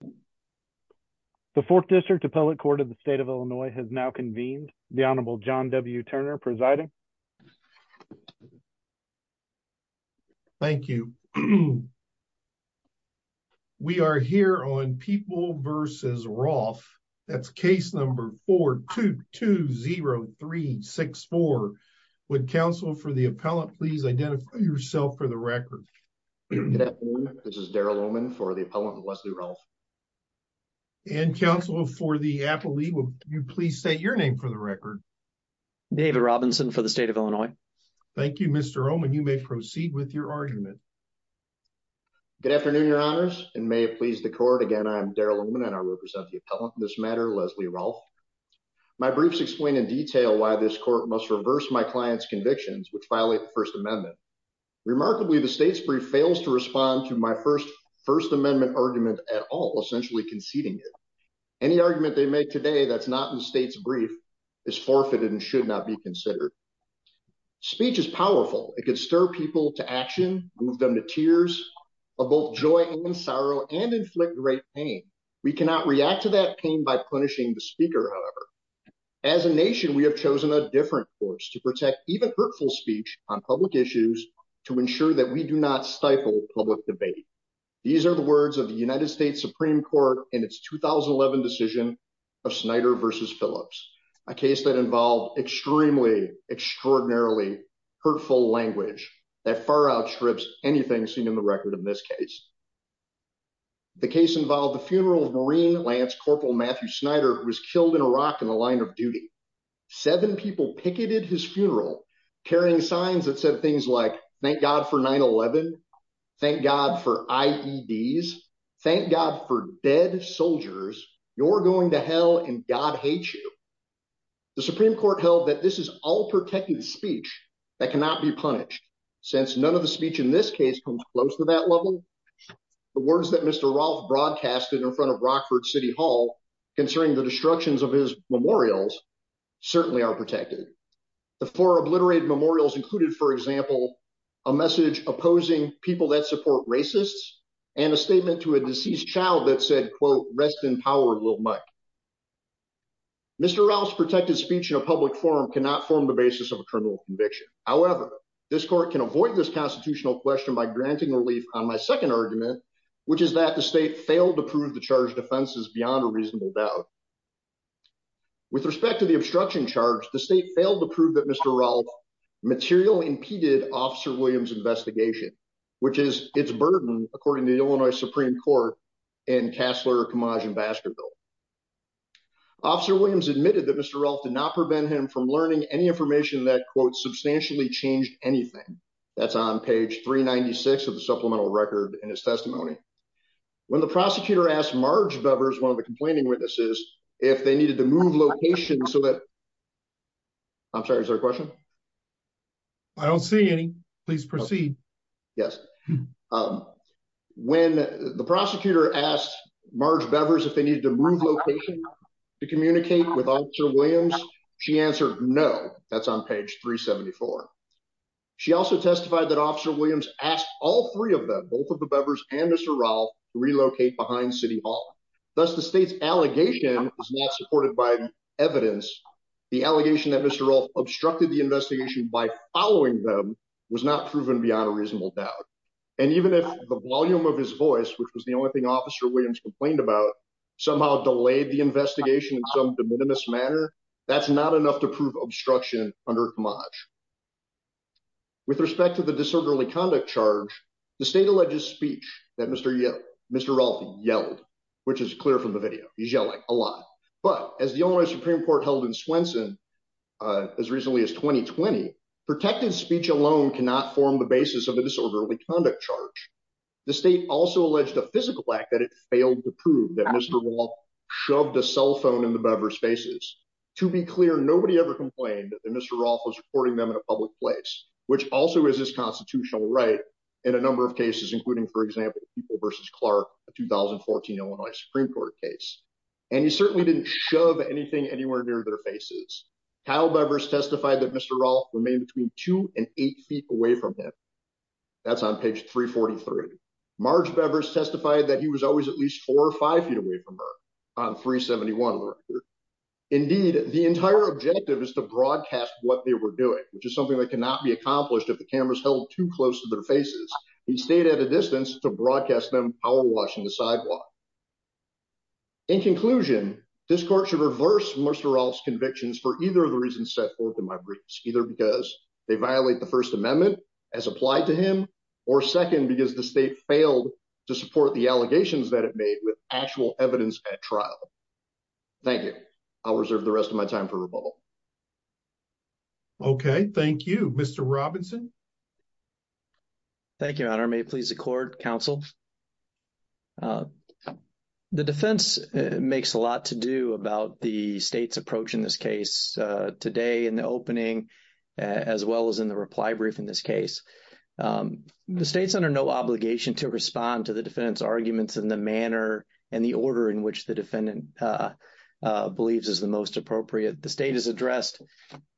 v. Rolfe, that's case number 4-2-2-0-3-6-4. Would counsel for the appellant please identify yourself for the record. Good afternoon. This is Darrell Lohman for the appellant with Leslie Rolfe. We are here on People v. Rolfe, that's case number 4-2-2-0-3-6-4. And counsel for the appellee, will you please state your name for the record. David Robinson for the state of Illinois. Thank you, Mr. Rolfe, and you may proceed with your argument. Good afternoon, your honors, and may it please the court. Again, I am Darrell Lohman, and I represent the appellant for this matter, Leslie Rolfe. My briefs explain in detail why this court must reverse my client's convictions, which violate the First Amendment. Remarkably, the state's brief fails to respond to my First Amendment argument at all, essentially conceding it. Any argument they make today that's not in the state's brief is forfeited and should not be considered. Speech is powerful. It can stir people to action, move them to tears of both joy and sorrow, and inflict great pain. We cannot react to that pain by punishing the speaker, however. As a nation, we have chosen a different course to protect even hurtful speech on public issues to ensure that we do not stifle public debate. These are the words of the United States Supreme Court in its 2011 decision of Snyder v. Phillips, a case that involved extremely, extraordinarily hurtful language that far outstrips anything seen in the record in this case. The case involved the funeral of Marine Lance Corporal Matthew Snyder, who was killed in Iraq in the line of duty. Seven people picketed his funeral, carrying signs that said things like, Thank God for 9-11. Thank God for IEDs. Thank God for dead soldiers. You're going to hell, and God hates you. The Supreme Court held that this is all protective speech that cannot be punished, since none of the speech in this case comes close to that level. The words that Mr. Rolfe broadcasted in front of Rockford City Hall concerning the destructions of his memorials certainly are protected. The four obliterated memorials included, for example, a message opposing people that support racists and a statement to a deceased child that said, quote, Rest in power, little Mike. Mr. Rolfe's protected speech in a public forum cannot form the basis of a criminal conviction. However, this court can avoid this constitutional question by granting relief on my second argument, which is that the state failed to prove the charged offenses beyond a reasonable doubt. With respect to the obstruction charge, the state failed to prove that Mr. Rolfe materially impeded Officer Williams' investigation, which is its burden, according to the Illinois Supreme Court and Kassler, Kamaj, and Baskerville. Officer Williams admitted that Mr. Rolfe did not prevent him from learning any information that, quote, substantially changed anything. That's on page 396 of the supplemental record in his testimony. When the prosecutor asked Marge Bevers, one of the complaining witnesses, if they needed to move locations so that. I'm sorry, is there a question? I don't see any. Please proceed. Yes. When the prosecutor asked Marge Bevers if they needed to move locations to communicate with Officer Williams, she answered no. That's on page 374. She also testified that Officer Williams asked all three of them, both of the Bevers and Mr. Rolfe, to relocate behind City Hall. Thus, the state's allegation is not supported by evidence. The allegation that Mr. Rolfe obstructed the investigation by following them was not proven beyond a reasonable doubt. And even if the volume of his voice, which was the only thing Officer Williams complained about, somehow delayed the investigation in some de minimis manner, that's not enough to prove obstruction under Kamaj. With respect to the disorderly conduct charge, the state alleges speech that Mr. Mr. Rolfe yelled, which is clear from the video. He's yelling a lot. But as the only Supreme Court held in Swenson as recently as 2020, protected speech alone cannot form the basis of a disorderly conduct charge. The state also alleged a physical act that it failed to prove that Mr. Rolfe shoved a cell phone in the Bevers' faces. To be clear, nobody ever complained that Mr. Rolfe was reporting them in a public place, which also is his constitutional right in a number of cases, including, for example, People v. Clark, a 2014 Illinois Supreme Court case. And he certainly didn't shove anything anywhere near their faces. Kyle Bevers testified that Mr. Rolfe remained between two and eight feet away from him. That's on page 343. Marge Bevers testified that he was always at least four or five feet away from her on 371. Indeed, the entire objective is to broadcast what they were doing, which is something that cannot be accomplished if the cameras held too close to their faces. He stayed at a distance to broadcast them power washing the sidewalk. In conclusion, this court should reverse Mr. Rolfe's convictions for either of the reasons set forth in my briefs, either because they violate the First Amendment as applied to him or second, because the state failed to support the allegations that it made with actual evidence at trial. Thank you. I'll reserve the rest of my time for rebuttal. OK, thank you, Mr. Robinson. Thank you. Your Honor, may it please the court, counsel. The defense makes a lot to do about the state's approach in this case today in the opening, as well as in the reply brief in this case. The state's under no obligation to respond to the defendant's arguments in the manner and the order in which the defendant believes is the most appropriate. The state has addressed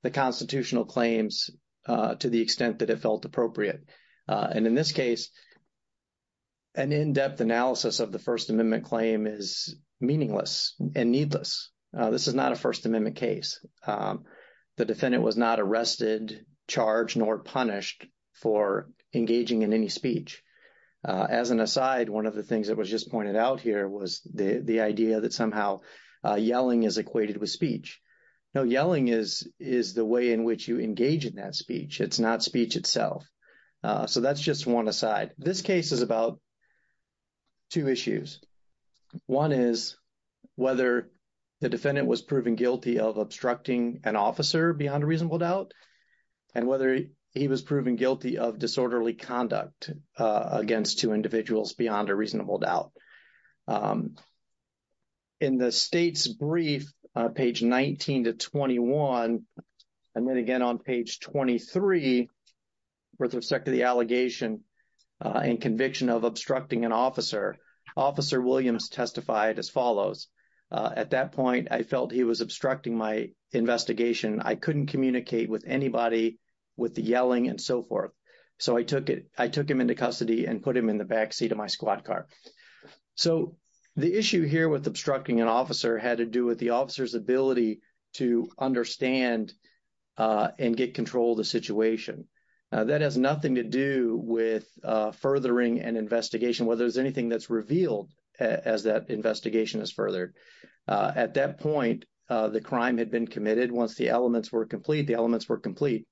the constitutional claims to the extent that it felt appropriate. And in this case, an in-depth analysis of the First Amendment claim is meaningless and needless. This is not a First Amendment case. The defendant was not arrested, charged, nor punished for engaging in any speech. As an aside, one of the things that was just pointed out here was the idea that somehow yelling is equated with speech. No, yelling is the way in which you engage in that speech. It's not speech itself. So that's just one aside. This case is about two issues. One is whether the defendant was proven guilty of obstructing an officer beyond a reasonable doubt and whether he was proven guilty of disorderly conduct against two individuals beyond a reasonable doubt. In the state's brief, page 19 to 21, and then again on page 23, with respect to the allegation and conviction of obstructing an officer, Officer Williams testified as follows. At that point, I felt he was obstructing my investigation. I couldn't communicate with anybody with the yelling and so forth. So I took him into custody and put him in the back seat of my squad car. So the issue here with obstructing an officer had to do with the officer's ability to understand and get control of the situation. That has nothing to do with furthering an investigation, whether there's anything that's revealed as that investigation is furthered. At that point, the crime had been committed. Once the elements were complete, the elements were complete.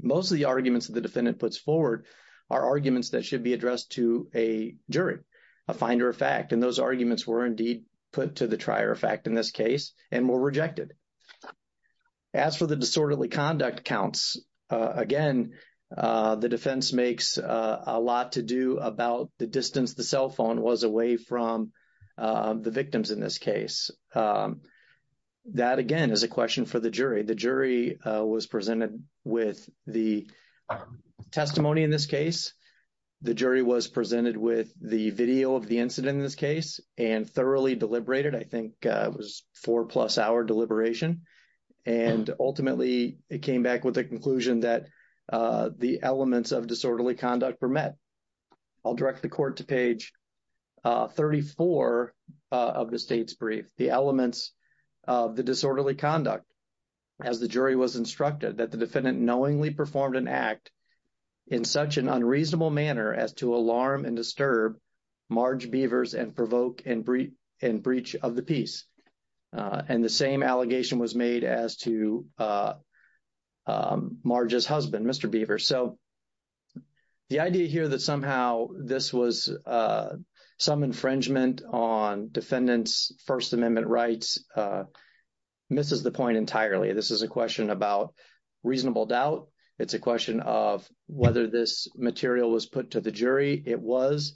Most of the arguments that the defendant puts forward are arguments that should be addressed to a jury, a finder of fact. And those arguments were indeed put to the trier of fact in this case and were rejected. As for the disorderly conduct counts, again, the defense makes a lot to do about the distance the cell phone was away from the victims in this case. That, again, is a question for the jury. The jury was presented with the testimony in this case. The jury was presented with the video of the incident in this case and thoroughly deliberated. I think it was a four-plus-hour deliberation. And ultimately, it came back with the conclusion that the elements of disorderly conduct were met. I'll direct the court to page 34 of the state's brief, the elements of the disorderly conduct. As the jury was instructed, that the defendant knowingly performed an act in such an unreasonable manner as to alarm and disturb Marge Beavers and provoke and breach of the peace. And the same allegation was made as to Marge's husband, Mr. Beavers. So the idea here that somehow this was some infringement on defendant's First Amendment rights misses the point entirely. This is a question about reasonable doubt. It's a question of whether this material was put to the jury. It was.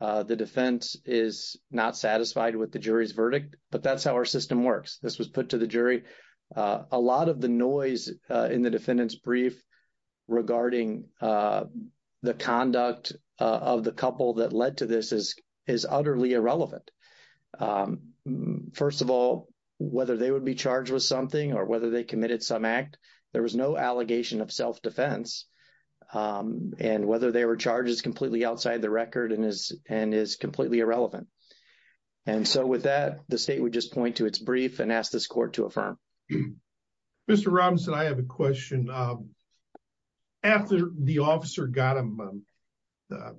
The defense is not satisfied with the jury's verdict. But that's how our system works. This was put to the jury. A lot of the noise in the defendant's brief regarding the conduct of the couple that led to this is utterly irrelevant. First of all, whether they would be charged with something or whether they committed some act, there was no allegation of self-defense. And whether they were charged is completely outside the record and is completely irrelevant. And so with that, the state would just point to its brief and ask this court to affirm. Mr. Robinson, I have a question. After the officer got him, the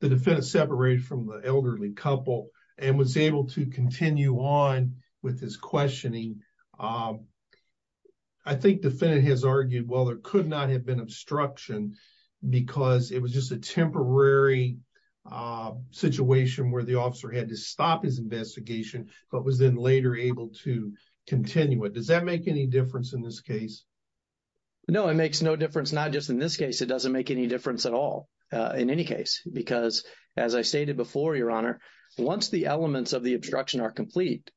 defendant separated from the elderly couple and was able to continue on with his questioning. I think the defendant has argued, well, there could not have been obstruction because it was just a temporary situation where the officer had to stop his investigation, but was then later able to continue it. Does that make any difference in this case? No, it makes no difference. Not just in this case. It doesn't make any difference at all in any case, because, as I stated before, Your Honor, once the elements of the obstruction are complete,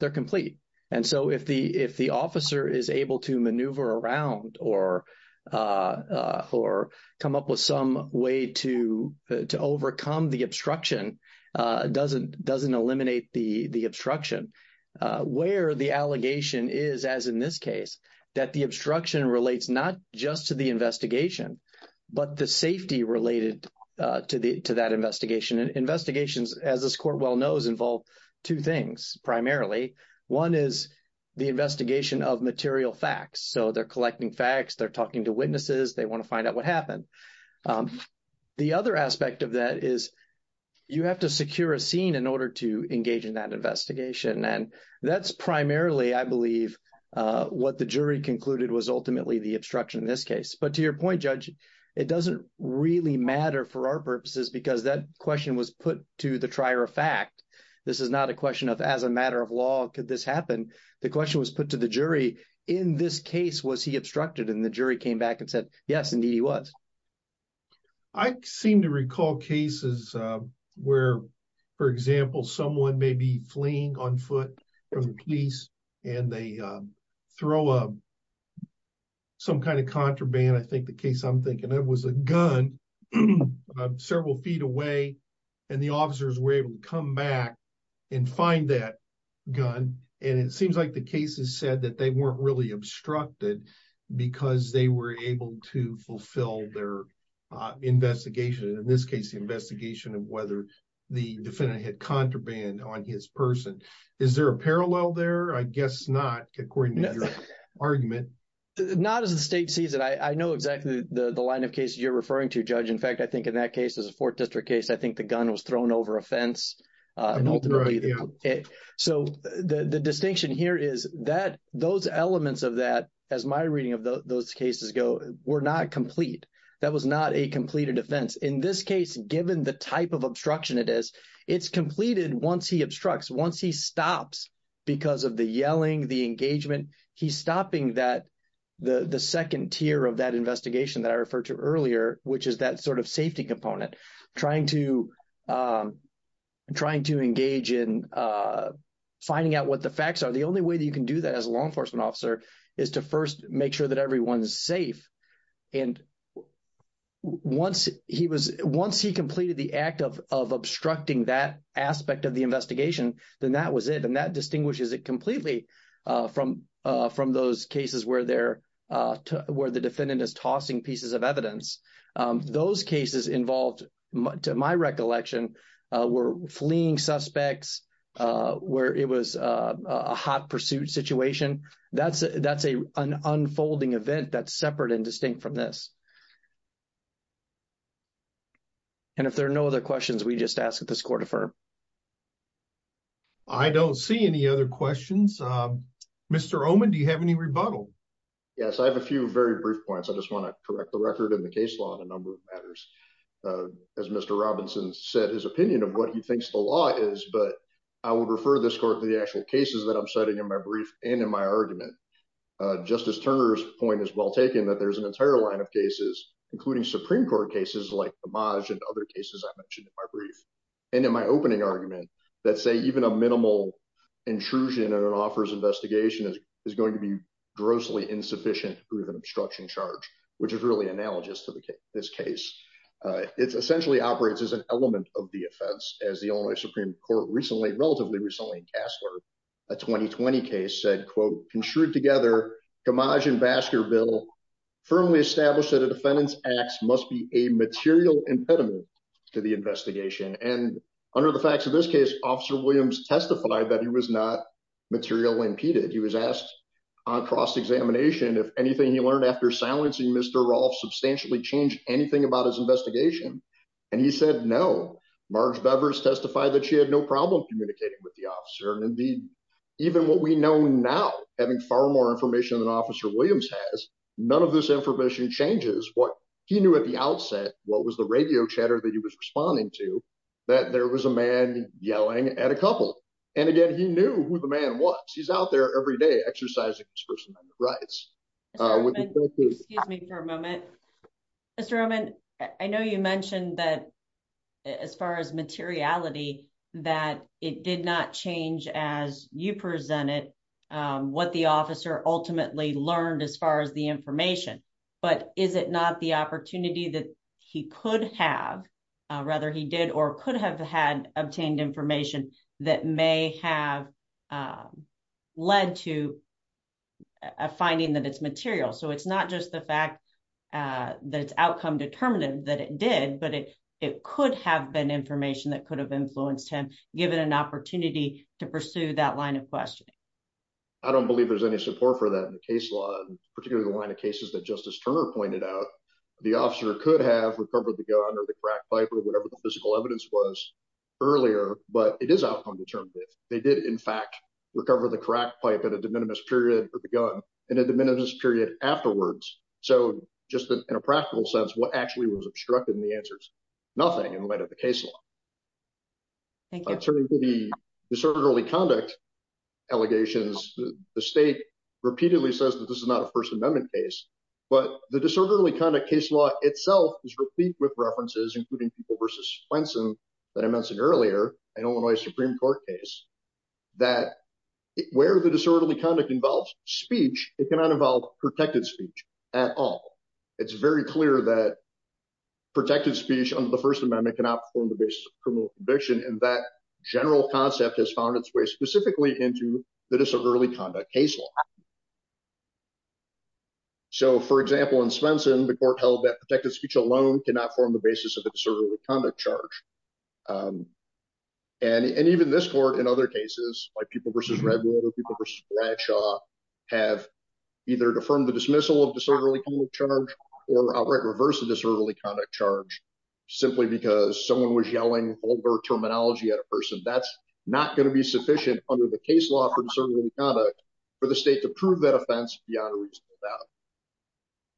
they're complete. And so if the officer is able to maneuver around or come up with some way to overcome the obstruction, doesn't eliminate the obstruction. Where the allegation is, as in this case, that the obstruction relates not just to the investigation, but the safety related to that investigation. Investigations, as this court well knows, involve two things primarily. One is the investigation of material facts. So they're collecting facts. They're talking to witnesses. They want to find out what happened. The other aspect of that is you have to secure a scene in order to engage in that investigation. And that's primarily, I believe, what the jury concluded was ultimately the obstruction in this case. But to your point, Judge, it doesn't really matter for our purposes, because that question was put to the trier of fact. This is not a question of as a matter of law, could this happen? The question was put to the jury. In this case, was he obstructed? And the jury came back and said, yes, indeed, he was. I seem to recall cases where, for example, someone may be fleeing on foot from the police and they throw up some kind of contraband. I think the case I'm thinking of was a gun several feet away. And the officers were able to come back and find that gun. And it seems like the cases said that they weren't really obstructed because they were able to fulfill their investigation. In this case, the investigation of whether the defendant had contraband on his person. Is there a parallel there? I guess not, according to your argument. Not as the state sees it. I know exactly the line of cases you're referring to, Judge. In fact, I think in that case, as a 4th District case, I think the gun was thrown over a fence. So the distinction here is that those elements of that, as my reading of those cases go, were not complete. That was not a completed offense. In this case, given the type of obstruction it is, it's completed once he obstructs, once he stops because of the yelling, the engagement. He's stopping that, the second tier of that investigation that I referred to earlier, which is that sort of safety component. Trying to engage in finding out what the facts are. The only way that you can do that as a law enforcement officer is to first make sure that everyone is safe. And once he completed the act of obstructing that aspect of the investigation, then that was it. And that distinguishes it completely from those cases where the defendant is tossing pieces of evidence. Those cases involved, to my recollection, were fleeing suspects, where it was a hot pursuit situation. That's an unfolding event that's separate and distinct from this. And if there are no other questions, we just ask that this court affirm. I don't see any other questions. Mr. Oman, do you have any rebuttal? Yes, I have a few very brief points. I just want to correct the record in the case law on a number of matters. As Mr. Robinson said, his opinion of what he thinks the law is, but I would refer this court to the actual cases that I'm citing in my brief and in my argument. Justice Turner's point is well taken, that there's an entire line of cases, including Supreme Court cases like the Maj and other cases I mentioned in my brief. And in my opening argument, let's say even a minimal intrusion in an officer's investigation is going to be grossly insufficient to prove an obstruction charge, which is really analogous to this case. It essentially operates as an element of the offense. As the only Supreme Court recently, relatively recently in Casler, a 2020 case said, quote, construed together, Gamage and Baskerville firmly established that a defendant's acts must be a material impediment to the investigation. And under the facts of this case, Officer Williams testified that he was not material impeded. He was asked on cross-examination if anything he learned after silencing Mr. Rolfe substantially changed anything about his investigation. And he said no. Marge Bevers testified that she had no problem communicating with the officer. And indeed, even what we know now, having far more information than Officer Williams has, none of this information changes what he knew at the outset, what was the radio chatter that he was responding to, that there was a man yelling at a couple. And again, he knew who the man was. He's out there every day exercising his personal rights. Excuse me for a moment. Mr. Roman, I know you mentioned that as far as materiality, that it did not change as you presented what the officer ultimately learned as far as the information. But is it not the opportunity that he could have, rather he did or could have had obtained information that may have led to a finding that it's material? So it's not just the fact that it's outcome-determinative that it did, but it could have been information that could have influenced him, given an opportunity to pursue that line of questioning. I don't believe there's any support for that in the case law, particularly the line of cases that Justice Turner pointed out. The officer could have recovered the gun or the crack pipe or whatever the physical evidence was earlier, but it is outcome-determinative. They did, in fact, recover the crack pipe at a de minimis period for the gun and a de minimis period afterwards. So just in a practical sense, what actually was obstructed in the answer is nothing in light of the case law. Turning to the disorderly conduct allegations, the state repeatedly says that this is not a First Amendment case. But the disorderly conduct case law itself is replete with references, including people versus Swenson that I mentioned earlier, an Illinois Supreme Court case, that where the disorderly conduct involves speech, it cannot involve protected speech at all. It's very clear that protected speech under the First Amendment cannot form the basis of criminal conviction, and that general concept has found its way specifically into the disorderly conduct case law. So, for example, in Swenson, the court held that protected speech alone cannot form the basis of a disorderly conduct charge. And even this court, in other cases, like people versus Redwood or people versus Bradshaw, have either affirmed the dismissal of disorderly conduct charge or outright reversed the disorderly conduct charge simply because someone was yelling vulgar terminology at a person. That's not going to be sufficient under the case law for disorderly conduct for the state to prove that offense beyond a reasonable doubt.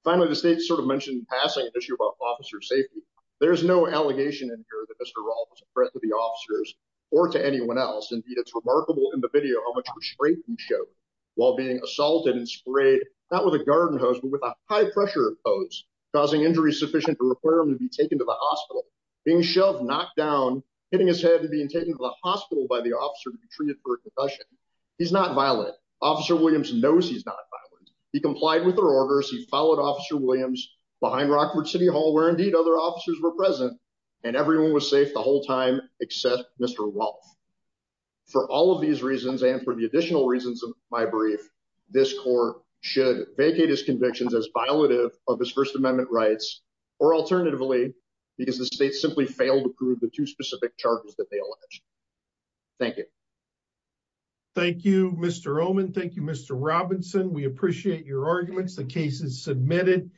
Finally, the state sort of mentioned in passing an issue about officer safety. There is no allegation in here that Mr. Raul was a threat to the officers or to anyone else. Indeed, it's remarkable in the video how much restraint he showed while being assaulted and sprayed, not with a garden hose, but with a high-pressure hose, causing injuries sufficient to require him to be taken to the hospital. Being shoved, knocked down, hitting his head, and being taken to the hospital by the officer to be treated for a concussion. He's not violent. Officer Williams knows he's not violent. He complied with their orders. He followed Officer Williams behind Rockford City Hall, where, indeed, other officers were present, and everyone was safe the whole time except Mr. Wolf. For all of these reasons and for the additional reasons of my brief, this court should vacate his convictions as violative of his First Amendment rights or, alternatively, because the state simply failed to prove the two specific charges that they alleged. Thank you. Thank you, Mr. Oman. Thank you, Mr. Robinson. We appreciate your arguments. The case is submitted.